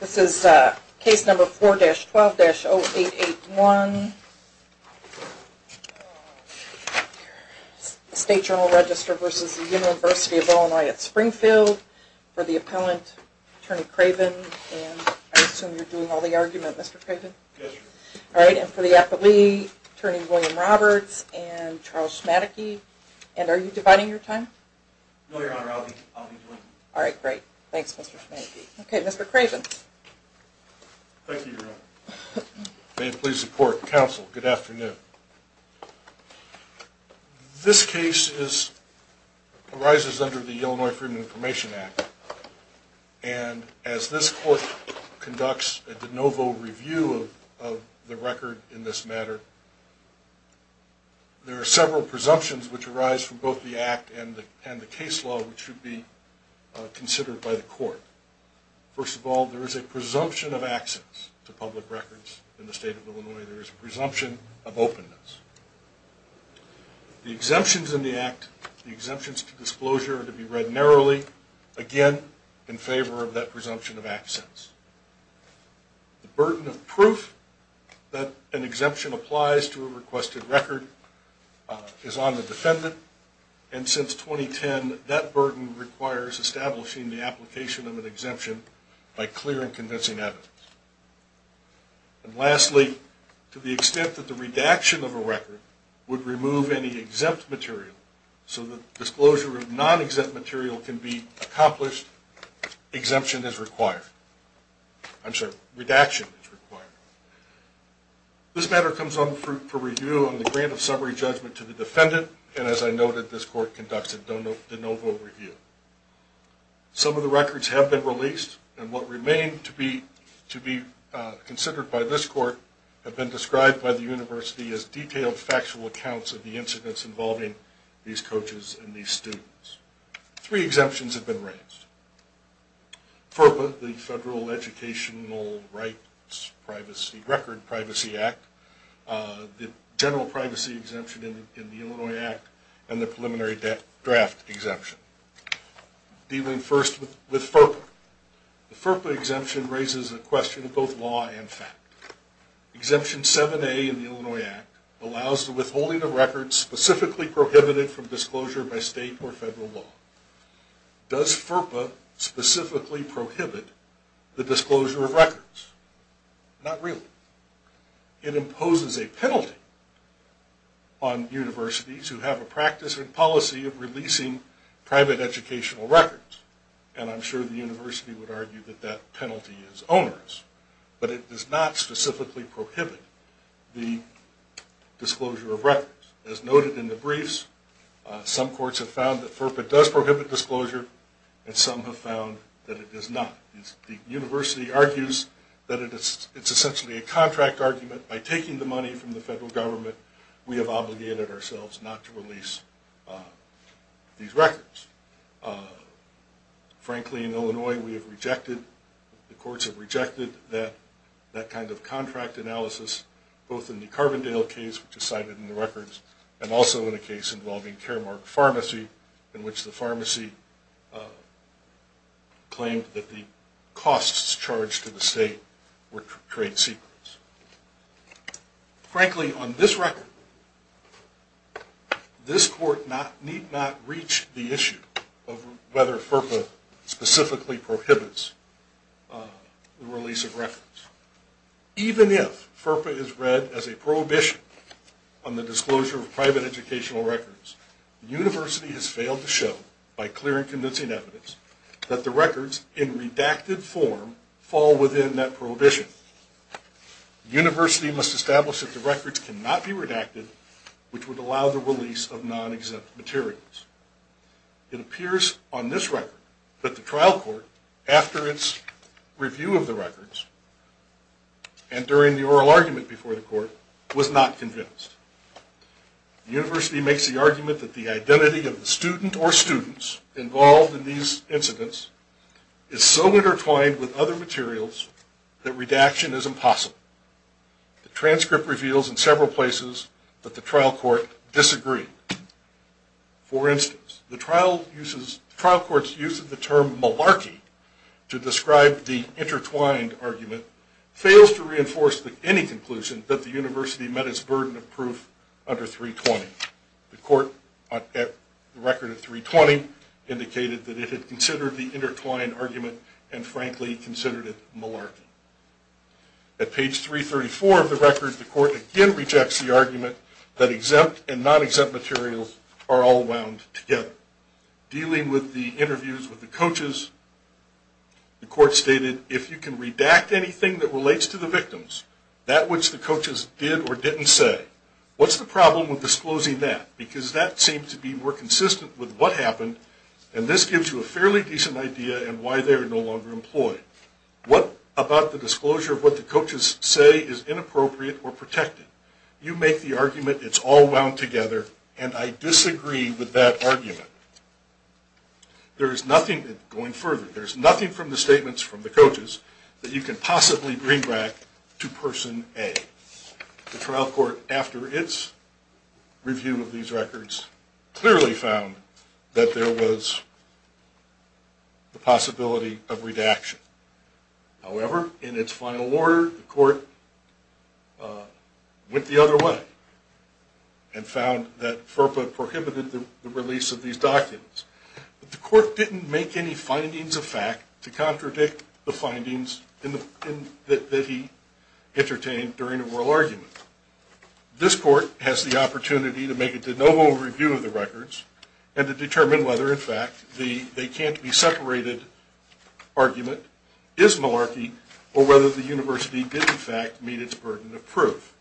This is case number 4-12-0881, State Journal Register v. University of Illinois at Springfield, for the appellant, Attorney Craven, and I assume you're doing all the argument, Mr. Craven? Yes, ma'am. Alright, and for the appellee, Attorney William Roberts and Charles Schmadeke. And are you dividing your time? No, Your Honor, I'll be doing it. Alright, great. Thanks, Mr. Schmadeke. Okay, Mr. Craven. Thank you, Your Honor. May it please the court and counsel, good afternoon. This case arises under the Illinois Freedom of Information Act, and as this court conducts a de novo review of the record in this matter, there are several presumptions which arise from both the act and the case law which should be considered by the court. First of all, there is a presumption of access to public records in the state of Illinois. There is a presumption of openness. The exemptions in the act, the exemptions to disclosure, are to be read narrowly, again, in favor of that presumption of access. The burden of proof that an exemption applies to a requested record is on the defendant, and since 2010, that burden requires establishing the application of an exemption by clear and convincing evidence. And lastly, to the extent that the redaction of a record would remove any exempt material, so that disclosure of non-exempt material can be accomplished, exemption is required. I'm sorry, redaction is required. This matter comes on for review on the grant of summary judgment to the defendant, and as I noted, this court conducts a de novo review. Some of the records have been released, and what remain to be considered by this court have been described by the university as detailed factual accounts of the incidents involving these coaches and these students. Three exemptions have been raised. FERPA, the Federal Educational Rights Record Privacy Act, the General Privacy Exemption in the Illinois Act, and the Preliminary Draft Exemption. Dealing first with FERPA, the FERPA exemption raises a question of both law and fact. Exemption 7A in the Illinois Act allows the withholding of records specifically prohibited from disclosure by state or federal law. Does FERPA specifically prohibit the disclosure of records? Not really. It imposes a penalty on universities who have a practice and policy of releasing private educational records, and I'm sure the university would argue that that penalty is onerous. But it does not specifically prohibit the disclosure of records. As noted in the briefs, some courts have found that FERPA does prohibit disclosure, and some have found that it does not. The university argues that it's essentially a contract argument. By taking the money from the federal government, we have obligated ourselves not to release these records. Frankly, in Illinois, the courts have rejected that kind of contract analysis, both in the Carbondale case, which is cited in the records, and also in a case involving Caremark Pharmacy, in which the pharmacy claimed that the costs charged to the state were trade secrets. Frankly, on this record, this court need not reach the issue of whether FERPA specifically prohibits the release of records. Even if FERPA is read as a prohibition on the disclosure of private educational records, the university has failed to show, by clear and convincing evidence, that the records, in redacted form, fall within that prohibition. The university must establish that the records cannot be redacted, which would allow the release of non-exempt materials. It appears on this record that the trial court, after its review of the records, and during the oral argument before the court, was not convinced. The university makes the argument that the identity of the student or students involved in these incidents is so intertwined with other materials that redaction is impossible. The transcript reveals in several places that the trial court disagreed. For instance, the trial court's use of the term malarkey to describe the intertwined argument fails to reinforce any conclusion that the university met its burden of proof under 320. The record of 320 indicated that it had considered the intertwined argument, and frankly, considered it malarkey. At page 334 of the record, the court again rejects the argument that exempt and non-exempt materials are all wound together. Dealing with the interviews with the coaches, the court stated, if you can redact anything that relates to the victims, that which the coaches did or didn't say, what's the problem with disclosing that? Because that seems to be more consistent with what happened, and this gives you a fairly decent idea of why they are no longer employed. What about the disclosure of what the coaches say is inappropriate or protected? You make the argument it's all wound together, and I disagree with that argument. There is nothing, going further, there is nothing from the statements from the coaches that you can possibly bring back to person A. The trial court, after its review of these records, clearly found that there was the possibility of redaction. However, in its final order, the court went the other way and found that FERPA prohibited the release of these documents. The court didn't make any findings of fact to contradict the findings that he entertained during the oral argument. This court has the opportunity to make a de novo review of the records, and to determine whether, in fact, the they can't be separated argument is malarkey, or whether the university did, in fact, meet its burden of proof.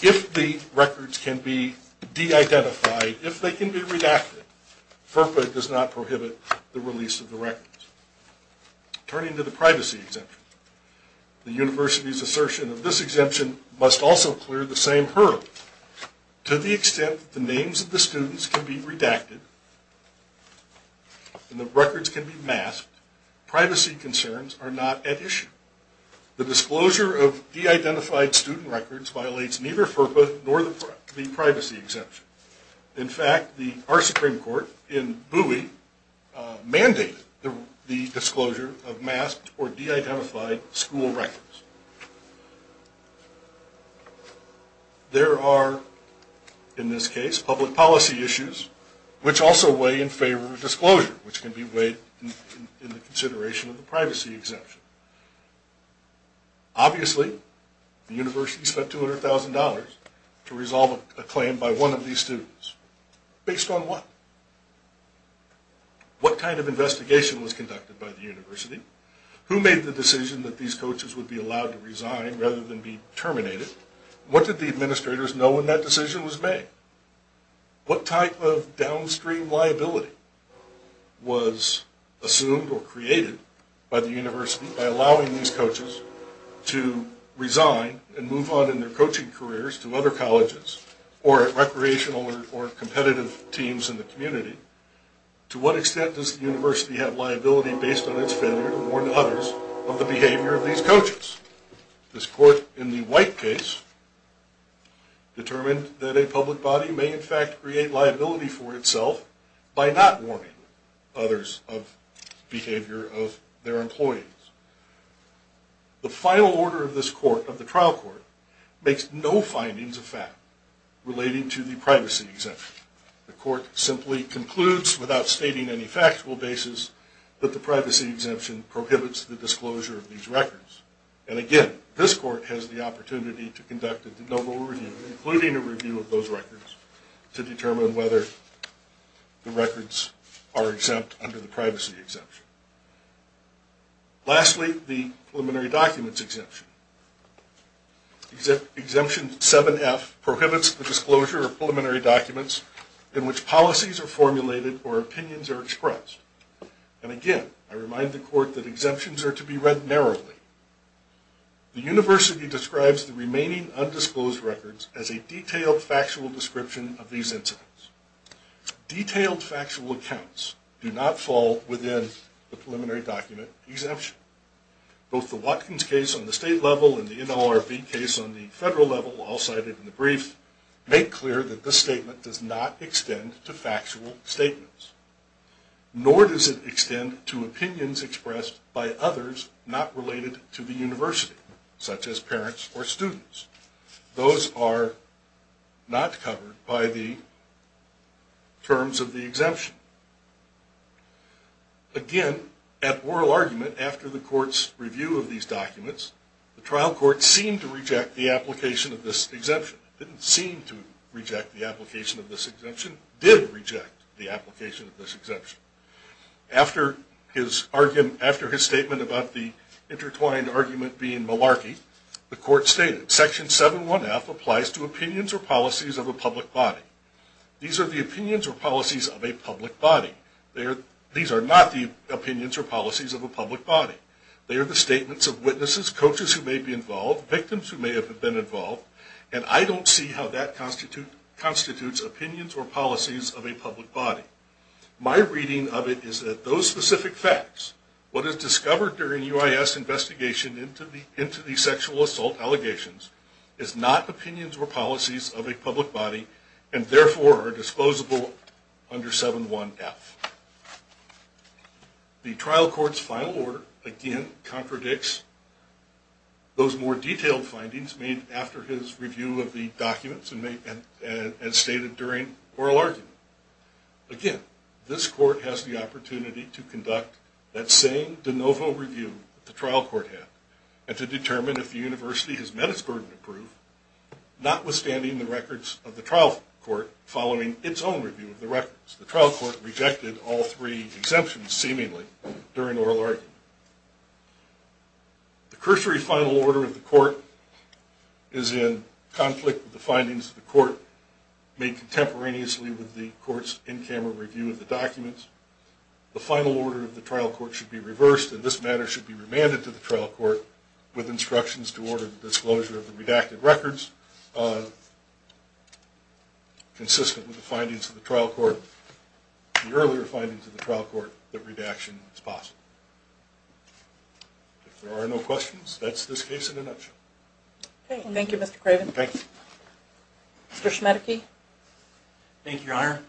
If the records can be de-identified, if they can be redacted, FERPA does not prohibit the release of the records. Turning to the privacy exemption, the university's assertion of this exemption must also clear the same hurdle. To the extent that the names of the students can be redacted, and the records can be masked, privacy concerns are not at issue. The disclosure of de-identified student records violates neither FERPA nor the privacy exemption. In fact, our Supreme Court in Bowie mandated the disclosure of masked or de-identified school records. There are, in this case, public policy issues which also weigh in favor of disclosure, which can be weighed in consideration of the privacy exemption. Obviously, the university spent $200,000 to resolve a claim by one of these students. Based on what? What kind of investigation was conducted by the university? Who made the decision that these coaches would be allowed to resign rather than be terminated? What did the administrators know when that decision was made? What type of downstream liability was assumed or created by the university by allowing these coaches to resign and move on in their coaching careers to other colleges or recreational or competitive teams in the community? To what extent does the university have liability based on its failure to warn others of the behavior of these coaches? This court in the White case determined that a public body may in fact create liability for itself by not warning others of the behavior of their employees. The final order of this court, of the trial court, makes no findings of fact relating to the privacy exemption. The court simply concludes without stating any factual basis that the privacy exemption prohibits the disclosure of these records. And again, this court has the opportunity to conduct a de novo review, including a review of those records, to determine whether the records are exempt under the privacy exemption. Lastly, the preliminary documents exemption. Exemption 7F prohibits the disclosure of preliminary documents in which policies are formulated or opinions are expressed. And again, I remind the court that exemptions are to be read narrowly. The university describes the remaining undisclosed records as a detailed factual description of these incidents. Detailed factual accounts do not fall within the preliminary document exemption. Both the Watkins case on the state level and the NLRB case on the federal level, all cited in the brief, make clear that this statement does not extend to factual statements. Nor does it extend to opinions expressed by others not related to the university, such as parents or students. Those are not covered by the terms of the exemption. Again, at oral argument, after the court's review of these documents, the trial court seemed to reject the application of this exemption. Didn't seem to reject the application of this exemption. Did reject the application of this exemption. After his statement about the intertwined argument being malarkey, the court stated, Section 7.1.F applies to opinions or policies of a public body. These are the opinions or policies of a public body. These are not the opinions or policies of a public body. They are the statements of witnesses, coaches who may be involved, victims who may have been involved, and I don't see how that constitutes opinions or policies of a public body. My reading of it is that those specific facts, what is discovered during UIS investigation into the sexual assault allegations, is not opinions or policies of a public body, and therefore are disposable under 7.1.F. The trial court's final order, again, contradicts those more detailed findings made after his review of the documents and stated during oral argument. Again, this court has the opportunity to conduct that same de novo review that the trial court had and to determine if the university has met its burden of proof, notwithstanding the records of the trial court following its own review of the records. The trial court rejected all three exemptions, seemingly, during oral argument. The cursory final order of the court is in conflict with the findings of the court made contemporaneously with the court's in-camera review of the documents. The final order of the trial court should be reversed, and this matter should be remanded to the trial court with instructions to order the disclosure of the redacted records consistent with the findings of the trial court, the earlier findings of the trial court, that redaction is possible. If there are no questions, that's this case in a nutshell. Thank you, Mr. Craven. Thank you. Mr. Schmedeke. Thank you, Your Honor.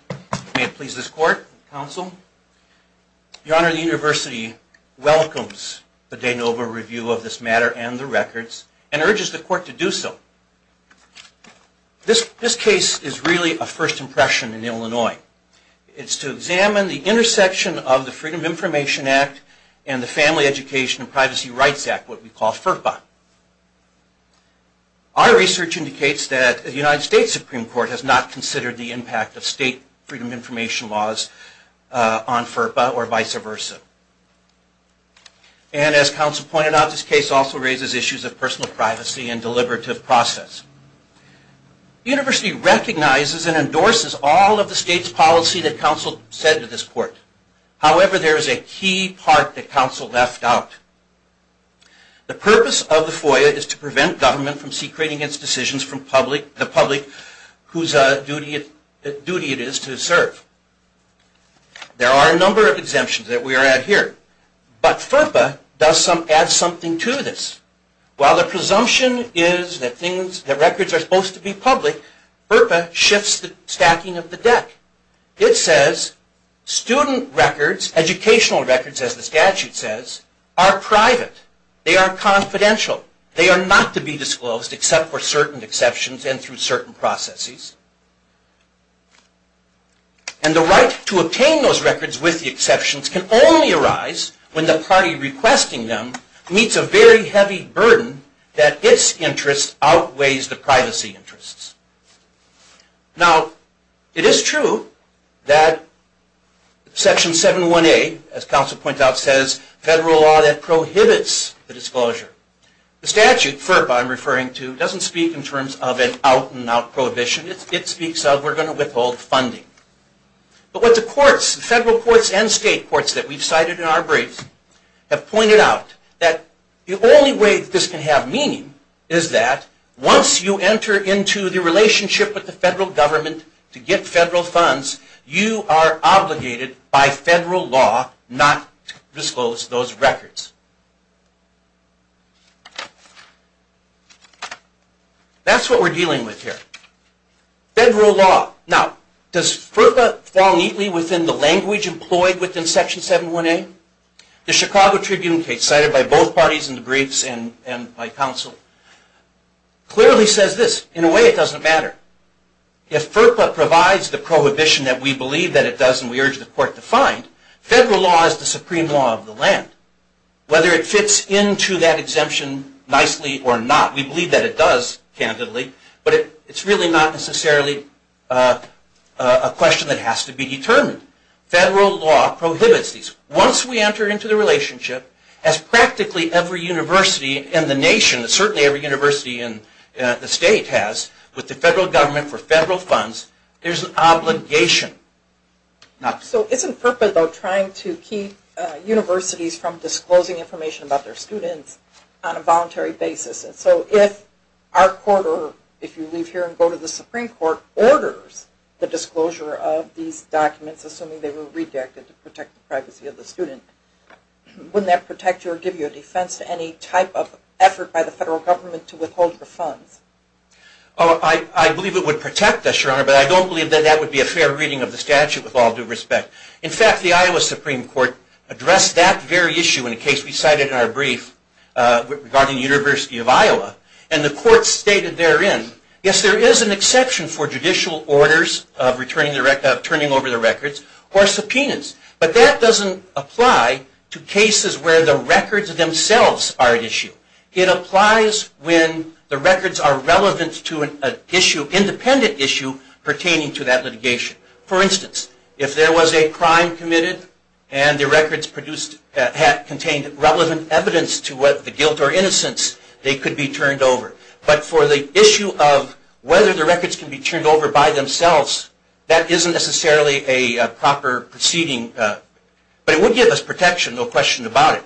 May it please this court and counsel. Your Honor, the university welcomes the de novo review of this matter and the records and urges the court to do so. This case is really a first impression in Illinois. It's to examine the intersection of the Freedom of Information Act and the Family Education and Privacy Rights Act, what we call FERPA. Our research indicates that the United States Supreme Court has not considered the impact of state freedom of information laws on FERPA or vice versa. And as counsel pointed out, this case also raises issues of personal privacy and deliberative process. The university recognizes and endorses all of the state's policy that counsel said to this court. However, there is a key part that counsel left out. The purpose of the FOIA is to prevent government from secreting its decisions from the public whose duty it is to serve. There are a number of exemptions that we are at here. But FERPA does add something to this. While the presumption is that records are supposed to be public, FERPA shifts the stacking of the deck. It says student records, educational records as the statute says, are private. They are confidential. They are not to be disclosed except for certain exceptions and through certain processes. And the right to obtain those records with the exceptions can only arise when the party requesting them meets a very heavy burden that its interest outweighs the privacy interests. Now, it is true that Section 718, as counsel points out, says federal law that prohibits the disclosure. The statute, FERPA I'm referring to, doesn't speak in terms of an out-and-out prohibition. It speaks of we're going to withhold funding. But what the courts, the federal courts and state courts that we've cited in our briefs, have pointed out that the only way this can have meaning is that once you enter into the relationship with the federal government to get federal funds, you are obligated by federal law not to disclose those records. That's what we're dealing with here. Federal law. Now, does FERPA fall neatly within the language employed within Section 718? The Chicago Tribune case cited by both parties in the briefs and by counsel clearly says this. In a way, it doesn't matter. If FERPA provides the prohibition that we believe that it does and we urge the court to find, federal law is the supreme law of the land. Whether it fits into that exemption nicely or not, we believe that it does, candidly, but it's really not necessarily a question that has to be determined. Federal law prohibits these. Once we enter into the relationship, as practically every university in the nation, and certainly every university in the state has, with the federal government for federal funds, there's an obligation. So isn't FERPA, though, trying to keep universities from disclosing information about their students on a voluntary basis? And so if our court, or if you leave here and go to the Supreme Court, orders the disclosure of these documents, assuming they were redacted to protect the privacy of the student, wouldn't that protect you or give you a defense to any type of effort by the federal government to withhold your funds? I believe it would protect us, Your Honor, but I don't believe that that would be a fair reading of the statute with all due respect. In fact, the Iowa Supreme Court addressed that very issue in a case we cited in our brief regarding the University of Iowa, and the court stated therein, yes, there is an exception for judicial orders of turning over the records or subpoenas, but that doesn't apply to cases where the records themselves are at issue. It applies when the records are relevant to an independent issue pertaining to that litigation. For instance, if there was a crime committed and the records contained relevant evidence to the guilt or innocence, they could be turned over. But for the issue of whether the records can be turned over by themselves, that isn't necessarily a proper proceeding. But it would give us protection, no question about it.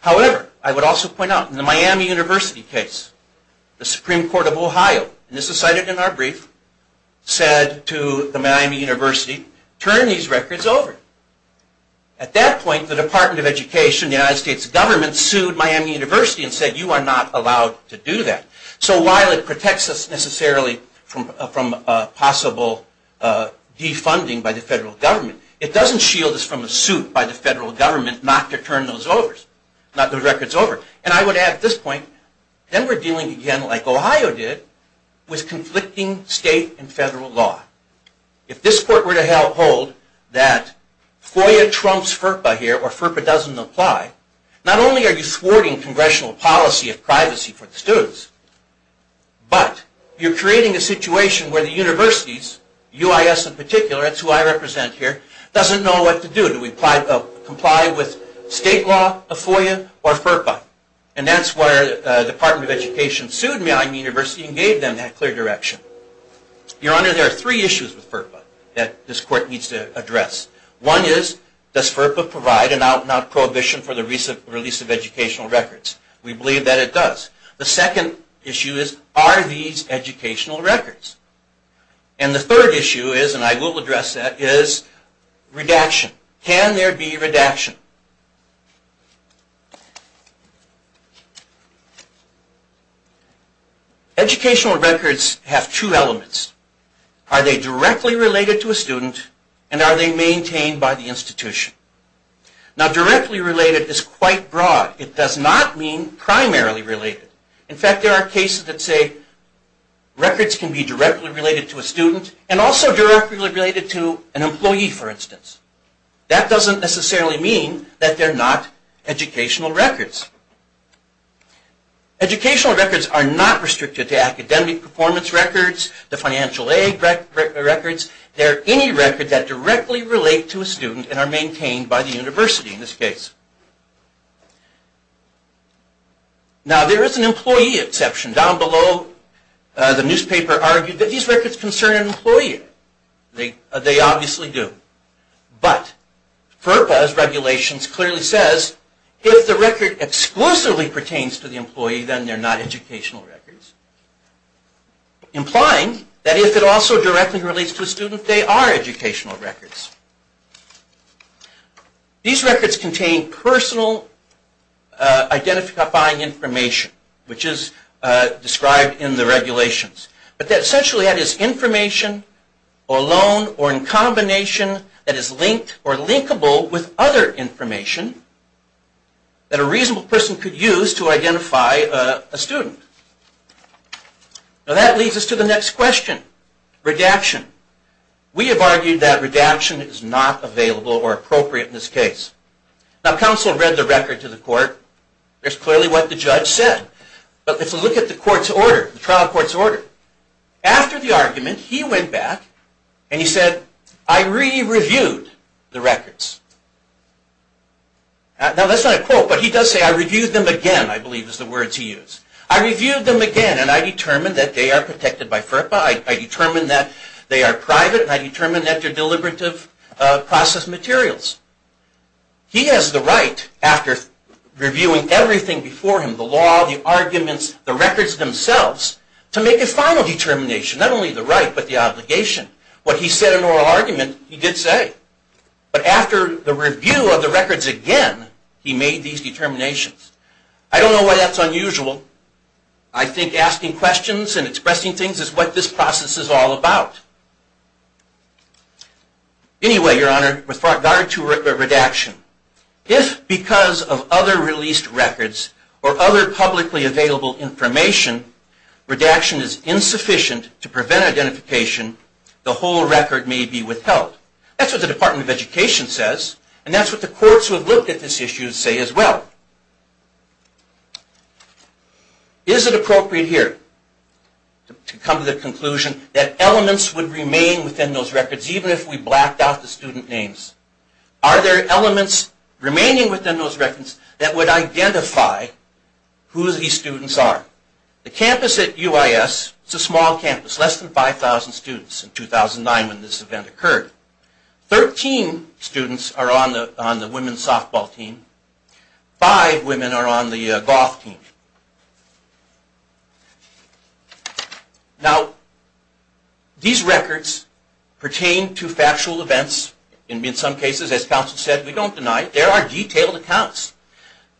However, I would also point out, in the Miami University case, the Supreme Court of Ohio, and this is cited in our brief, said to the Miami University, turn these records over. At that point, the Department of Education, the United States government, sued Miami University and said, you are not allowed to do that. So while it protects us necessarily from possible defunding by the federal government, it doesn't shield us from a suit by the federal government not to turn those records over. And I would add at this point, then we're dealing again, like Ohio did, with conflicting state and federal law. If this court were to hold that FOIA trumps FERPA here, or FERPA doesn't apply, not only are you thwarting congressional policy of privacy for the students, but you're creating a situation where the universities, UIS in particular, that's who I represent here, doesn't know what to do. Do we comply with state law, FOIA, or FERPA? And that's where the Department of Education sued Miami University and gave them that clear direction. Your Honor, there are three issues with FERPA that this court needs to address. One is, does FERPA provide an out-and-out prohibition for the release of educational records? We believe that it does. The second issue is, are these educational records? And the third issue is, and I will address that, is redaction. Can there be redaction? Educational records have two elements. Are they directly related to a student, and are they maintained by the institution? Now, directly related is quite broad. It does not mean primarily related. In fact, there are cases that say records can be directly related to a student, and also directly related to an employee, for instance. That doesn't necessarily mean that they're not educational records. Educational records are not restricted to academic performance records, the financial aid records. They're any record that directly relate to a student and are maintained by the university, in this case. Now, there is an employee exception. Down below, the newspaper argued that these records concern an employee. They obviously do. But FERPA's regulations clearly says, if the record exclusively pertains to the employee, then they're not educational records. Implying that if it also directly relates to a student, they are educational records. These records contain personal identifying information, which is described in the regulations. But essentially that is information alone or in combination that is linked or linkable with other information that a reasonable person could use to identify a student. Now, that leads us to the next question, redaction. We have argued that redaction is not available or appropriate in this case. Now, counsel read the record to the court. There's clearly what the judge said. But if you look at the court's order, the trial court's order, after the argument, he went back and he said, I re-reviewed the records. Now, that's not a quote, but he does say, I reviewed them again, I believe is the words he used. I reviewed them again and I determined that they are protected by FERPA. I determined that they are private and I determined that they're deliberative process materials. He has the right, after reviewing everything before him, the law, the arguments, the records themselves, to make a final determination, not only the right but the obligation. What he said in oral argument, he did say. But after the review of the records again, he made these determinations. I don't know why that's unusual. I think asking questions and expressing things is what this process is all about. Anyway, Your Honor, with regard to redaction, if because of other released records or other publicly available information, redaction is insufficient to prevent identification, the whole record may be withheld. That's what the Department of Education says. And that's what the courts who have looked at this issue say as well. Is it appropriate here to come to the conclusion that elements would remain within those records, even if we blacked out the student names? Are there elements remaining within those records that would identify who these students are? The campus at UIS, it's a small campus, less than 5,000 students in 2009 when this event occurred. Thirteen students are on the women's softball team. Five women are on the golf team. Now, these records pertain to factual events. In some cases, as counsel said, we don't deny it. There are detailed accounts.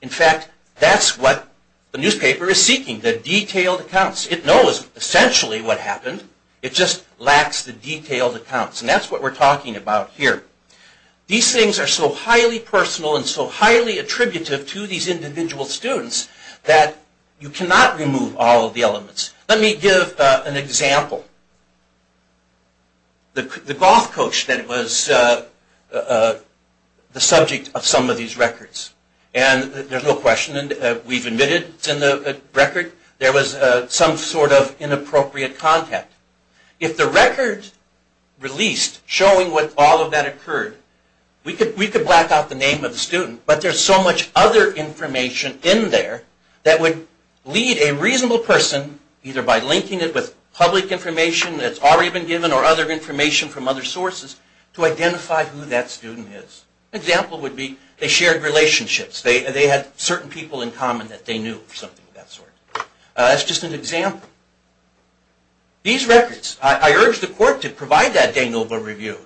In fact, that's what the newspaper is seeking, the detailed accounts. It knows essentially what happened. It just lacks the detailed accounts. And that's what we're talking about here. These things are so highly personal and so highly attributive to these individual students that you cannot remove all of the elements. Let me give an example. The golf coach that was the subject of some of these records. And there's no question, we've admitted it's in the record. There was some sort of inappropriate content. If the record released showing what all of that occurred, we could black out the name of the student, but there's so much other information in there that would lead a reasonable person, either by linking it with public information that's already been given or other information from other sources, to identify who that student is. An example would be they shared relationships. They had certain people in common that they knew or something of that sort. That's just an example. These records, I urge the court to provide that Danilova review.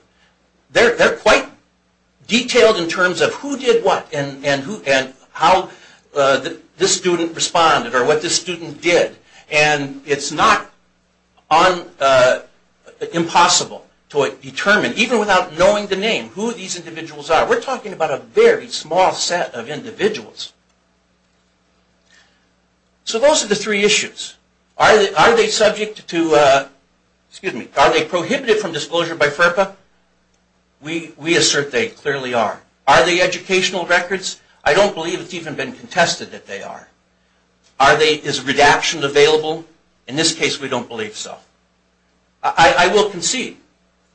They're quite detailed in terms of who did what and how this student responded or what this student did. And it's not impossible to determine, even without knowing the name, who these individuals are. We're talking about a very small set of individuals. So those are the three issues. Are they prohibited from disclosure by FERPA? We assert they clearly are. Are they educational records? I don't believe it's even been contested that they are. Is redaction available? In this case we don't believe so. I will concede.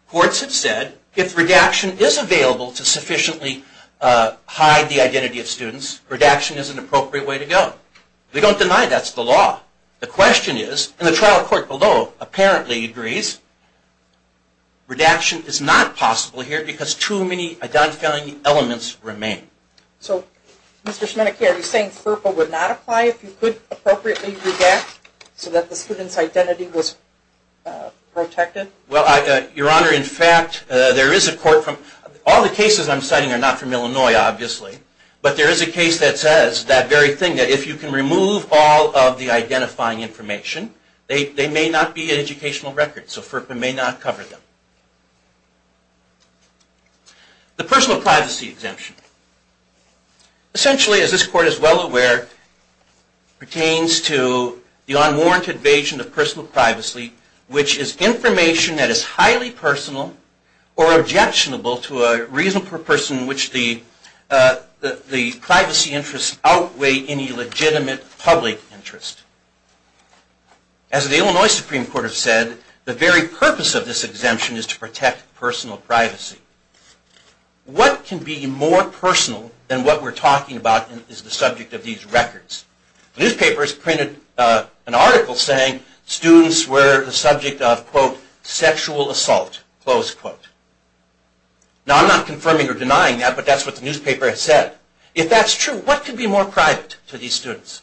Courts have said if redaction is available to sufficiently hide the identity of students, redaction is an appropriate way to go. We don't deny that's the law. The question is, and the trial court below apparently agrees, redaction is not possible here because too many identifying elements remain. So, Mr. Schmeneker, are you saying FERPA would not apply if you could appropriately redact so that the student's identity was protected? Well, Your Honor, in fact, there is a court from, all the cases I'm citing are not from Illinois, obviously, but there is a case that says that very thing, that if you can remove all of the identifying information, they may not be an educational record. So FERPA may not cover them. The personal privacy exemption. Essentially, as this Court is well aware, pertains to the unwarranted evasion of personal privacy, which is information that is highly personal or objectionable to a reasonable person in which the privacy interests outweigh any legitimate public interest. As the Illinois Supreme Court has said, the very purpose of this exemption is to protect personal privacy. What can be more personal than what we're talking about is the subject of these records. Newspapers printed an article saying students were the subject of, quote, sexual assault, close quote. Now, I'm not confirming or denying that, but that's what the newspaper has said. If that's true, what could be more private to these students?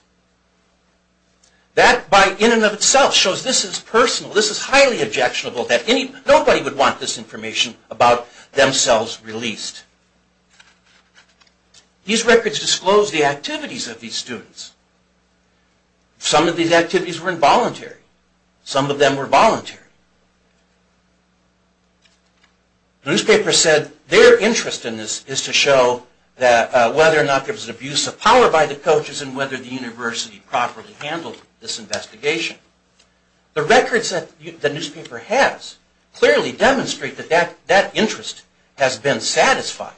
That, in and of itself, shows this is personal, this is highly objectionable, that nobody would want this information about themselves released. These records disclose the activities of these students. Some of these activities were involuntary. Some of them were voluntary. The newspaper said their interest in this is to show whether or not there was an abuse of power by the coaches and whether the university properly handled this investigation. The records that the newspaper has clearly demonstrate that that interest has been satisfied.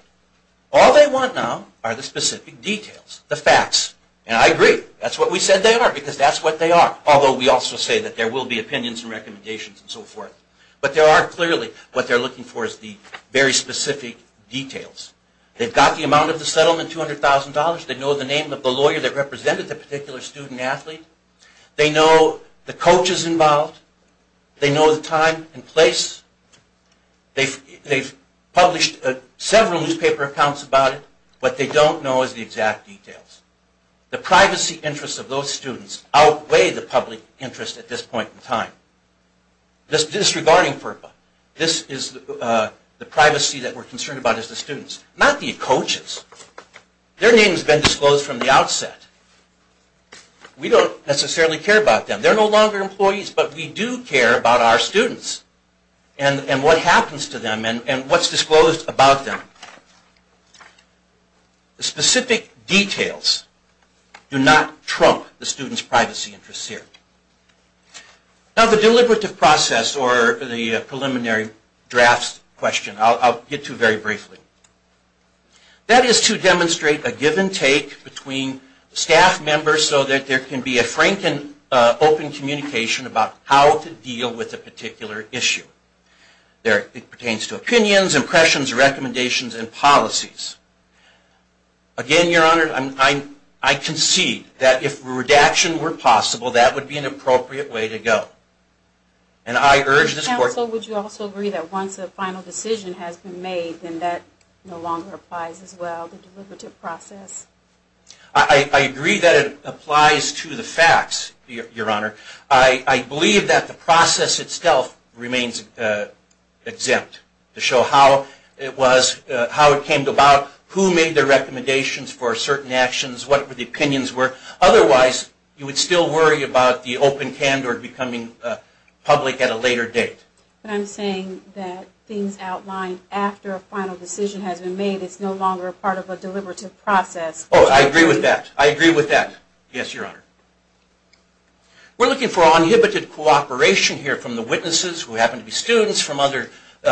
All they want now are the specific details, the facts. And I agree, that's what we said they are, because that's what they are. Although we also say that there will be opinions and recommendations and so forth. But there are clearly, what they're looking for is the very specific details. They've got the amount of the settlement, $200,000. They know the name of the lawyer that represented the particular student athlete. They know the coaches involved. They know the time and place. They've published several newspaper accounts about it. What they don't know is the exact details. The privacy interests of those students outweigh the public interest at this point in time. This is disregarding FERPA. This is the privacy that we're concerned about as the students. Not the coaches. Their name has been disclosed from the outset. We don't necessarily care about them. They're no longer employees, but we do care about our students and what happens to them and what's disclosed about them. The specific details do not trump the students' privacy interests here. Now the deliberative process, or the preliminary drafts question, I'll get to very briefly. That is to demonstrate a give and take between staff members so that there can be a frank and open communication about how to deal with a particular issue. It pertains to opinions, impressions, recommendations, and policies. Again, Your Honor, I concede that if redaction were possible, that would be an appropriate way to go. And I urge this court... Counsel, would you also agree that once a final decision has been made, then that no longer applies as well, the deliberative process? I agree that it applies to the facts, Your Honor. I believe that the process itself remains exempt to show how it came about, who made the recommendations for certain actions, what the opinions were. Otherwise, you would still worry about the open candor becoming public at a later date. But I'm saying that things outlined after a final decision has been made, it's no longer part of a deliberative process. Oh, I agree with that. I agree with that. Yes, Your Honor. We're looking for uninhibited cooperation here from the witnesses, who happen to be students, from other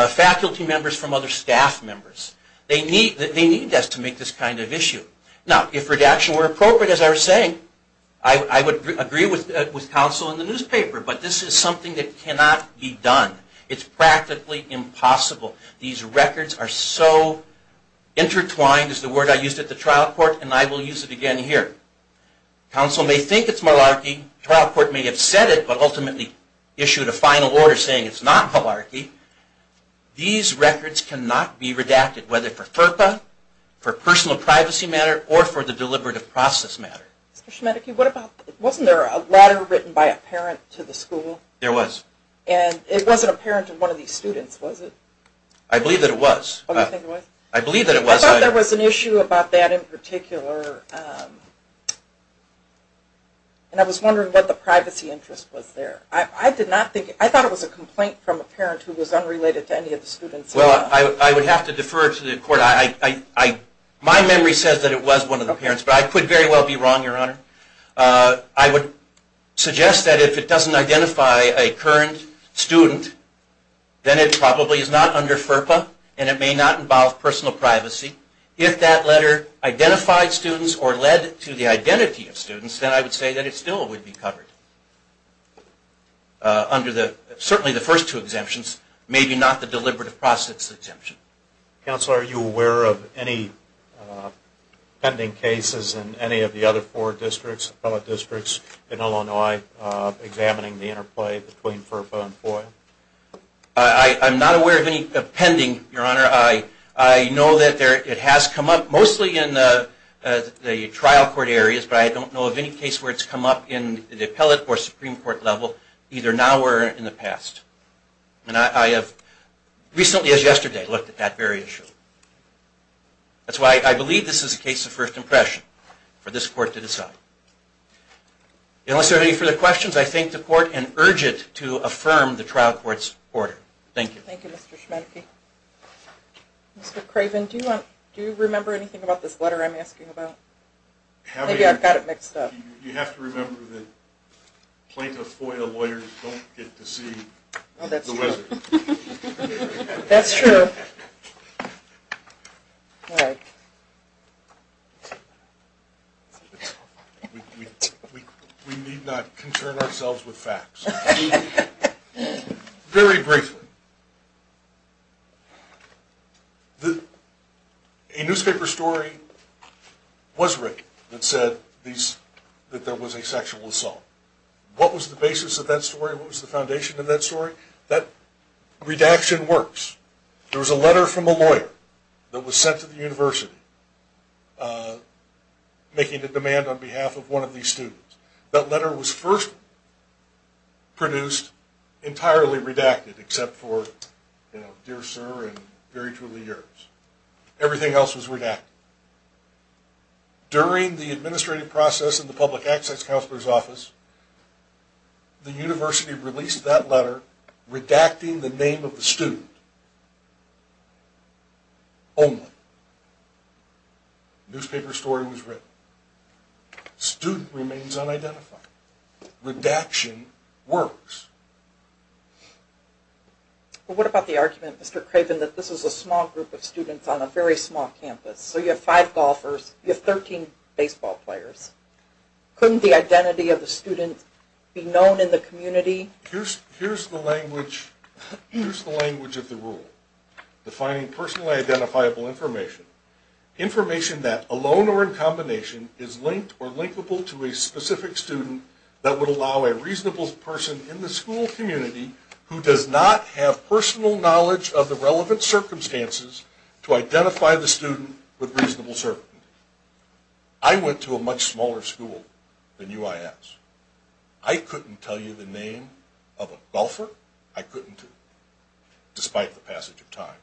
faculty members, from other staff members. They need us to make this kind of issue. Now, if redaction were appropriate, as I was saying, I would agree with counsel in the newspaper. But this is something that cannot be done. It's practically impossible. These records are so intertwined, is the word I used at the trial court, and I will use it again here. Counsel may think it's malarkey. Trial court may have said it, but ultimately issued a final order saying it's not malarkey. These records cannot be redacted, whether for FERPA, for personal privacy matter, or for the deliberative process matter. Mr. Smedeky, wasn't there a letter written by a parent to the school? There was. And it wasn't a parent to one of these students, was it? I believe that it was. Oh, you think it was? I believe that it was. I thought there was an issue about that in particular, and I was wondering what the privacy interest was there. I thought it was a complaint from a parent who was unrelated to any of the students. Well, I would have to defer to the court. My memory says that it was one of the parents, but I could very well be wrong, Your Honor. I would suggest that if it doesn't identify a current student, then it probably is not under FERPA, and it may not involve personal privacy. If that letter identified students or led to the identity of students, then I would say that it still would be covered under certainly the first two exemptions, maybe not the deliberative process exemption. Counselor, are you aware of any pending cases in any of the other four districts, in Illinois, examining the interplay between FERPA and FOIA? I'm not aware of any pending, Your Honor. I know that it has come up mostly in the trial court areas, but I don't know of any case where it's come up in the appellate or Supreme Court level, either now or in the past. And I have recently, as yesterday, looked at that very issue. That's why I believe this is a case of first impression for this court to decide. Unless there are any further questions, I thank the court and urge it to affirm the trial court's order. Thank you. Thank you, Mr. Schmedke. Mr. Craven, do you remember anything about this letter I'm asking about? Maybe I've got it mixed up. You have to remember that plaintiff FOIA lawyers don't get to see the wizard. That's true. We need not concern ourselves with facts. Very briefly, a newspaper story was written that said that there was a sexual assault. What was the basis of that story? What was the foundation of that story? That redaction works. There was a letter from a lawyer that was sent to the university making a demand on behalf of one of these students. That letter was first produced entirely redacted, except for, you know, Dear Sir and Very Truly Yours. Everything else was redacted. During the administrative process in the Public Access Counselor's Office, the university released that letter redacting the name of the student only. The newspaper story was written. The student remains unidentified. Redaction works. But what about the argument, Mr. Craven, that this was a small group of students on a very small campus? So you have five golfers. You have 13 baseball players. Couldn't the identity of the student be known in the community? Here's the language of the rule. Defining personally identifiable information. Information that, alone or in combination, is linked or linkable to a specific student that would allow a reasonable person in the school community who does not have personal knowledge of the relevant circumstances to identify the student with reasonable certainty. I went to a much smaller school than UIS. I couldn't tell you the name of a golfer. I couldn't, despite the passage of time.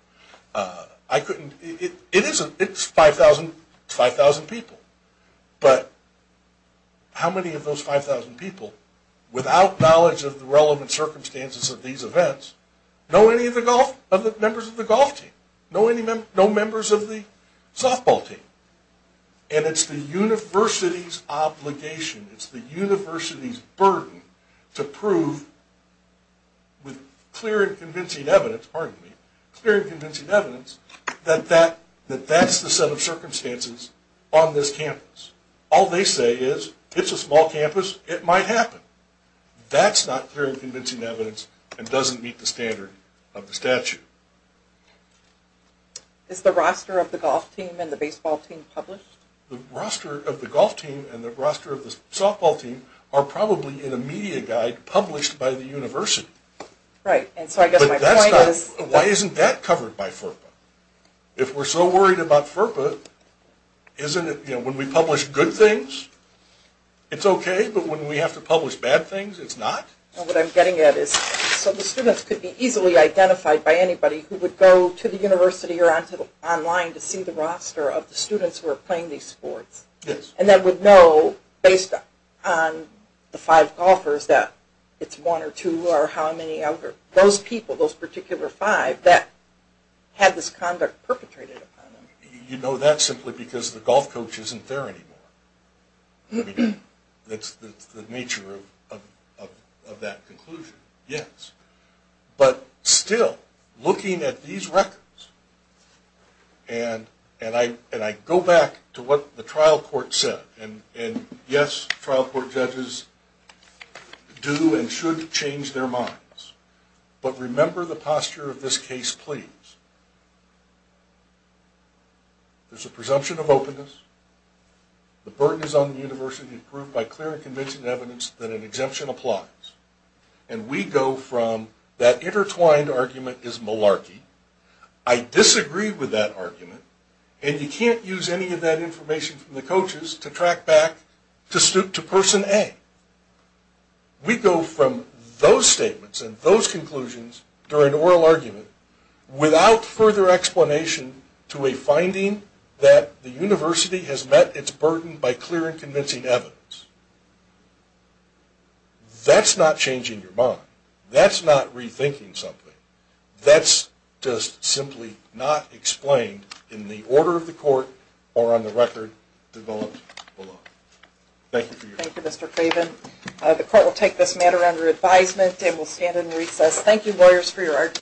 It's 5,000 people. But how many of those 5,000 people, without knowledge of the relevant circumstances of these events, know any of the members of the golf team? No members of the softball team. And it's the university's obligation, it's the university's burden, to prove with clear and convincing evidence that that's the set of circumstances on this campus. All they say is, it's a small campus, it might happen. That's not clear and convincing evidence and doesn't meet the standard of the statute. Is the roster of the golf team and the baseball team published? The roster of the golf team and the roster of the softball team are probably in a media guide published by the university. Right, and so I guess my point is... Why isn't that covered by FERPA? If we're so worried about FERPA, when we publish good things, it's okay, but when we have to publish bad things, it's not? What I'm getting at is, so the students could be easily identified by anybody who would go to the university or online to see the roster of the students who are playing these sports, and then would know, based on the five golfers, that it's one or two or how many out there. Those people, those particular five, that had this conduct perpetrated upon them. You know that simply because the golf coach isn't there anymore. That's the nature of that conclusion, yes. But still, looking at these records, and I go back to what the trial court said, and yes, trial court judges do and should change their minds, but remember the posture of this case, please. There's a presumption of openness. The burden is on the university to prove by clear and convincing evidence that an exemption applies. And we go from that intertwined argument is malarkey, I disagree with that argument, and you can't use any of that information from the coaches to track back to person A. We go from those statements and those conclusions during oral argument, without further explanation, to a finding that the university has met its burden by clear and convincing evidence. That's not changing your mind. That's not rethinking something. That's just simply not explained in the order of the court or on the record developed below. Thank you for your time. Thank you, Mr. Craven. The court will take this matter under advisement and will stand in recess. Thank you, lawyers, for your arguments.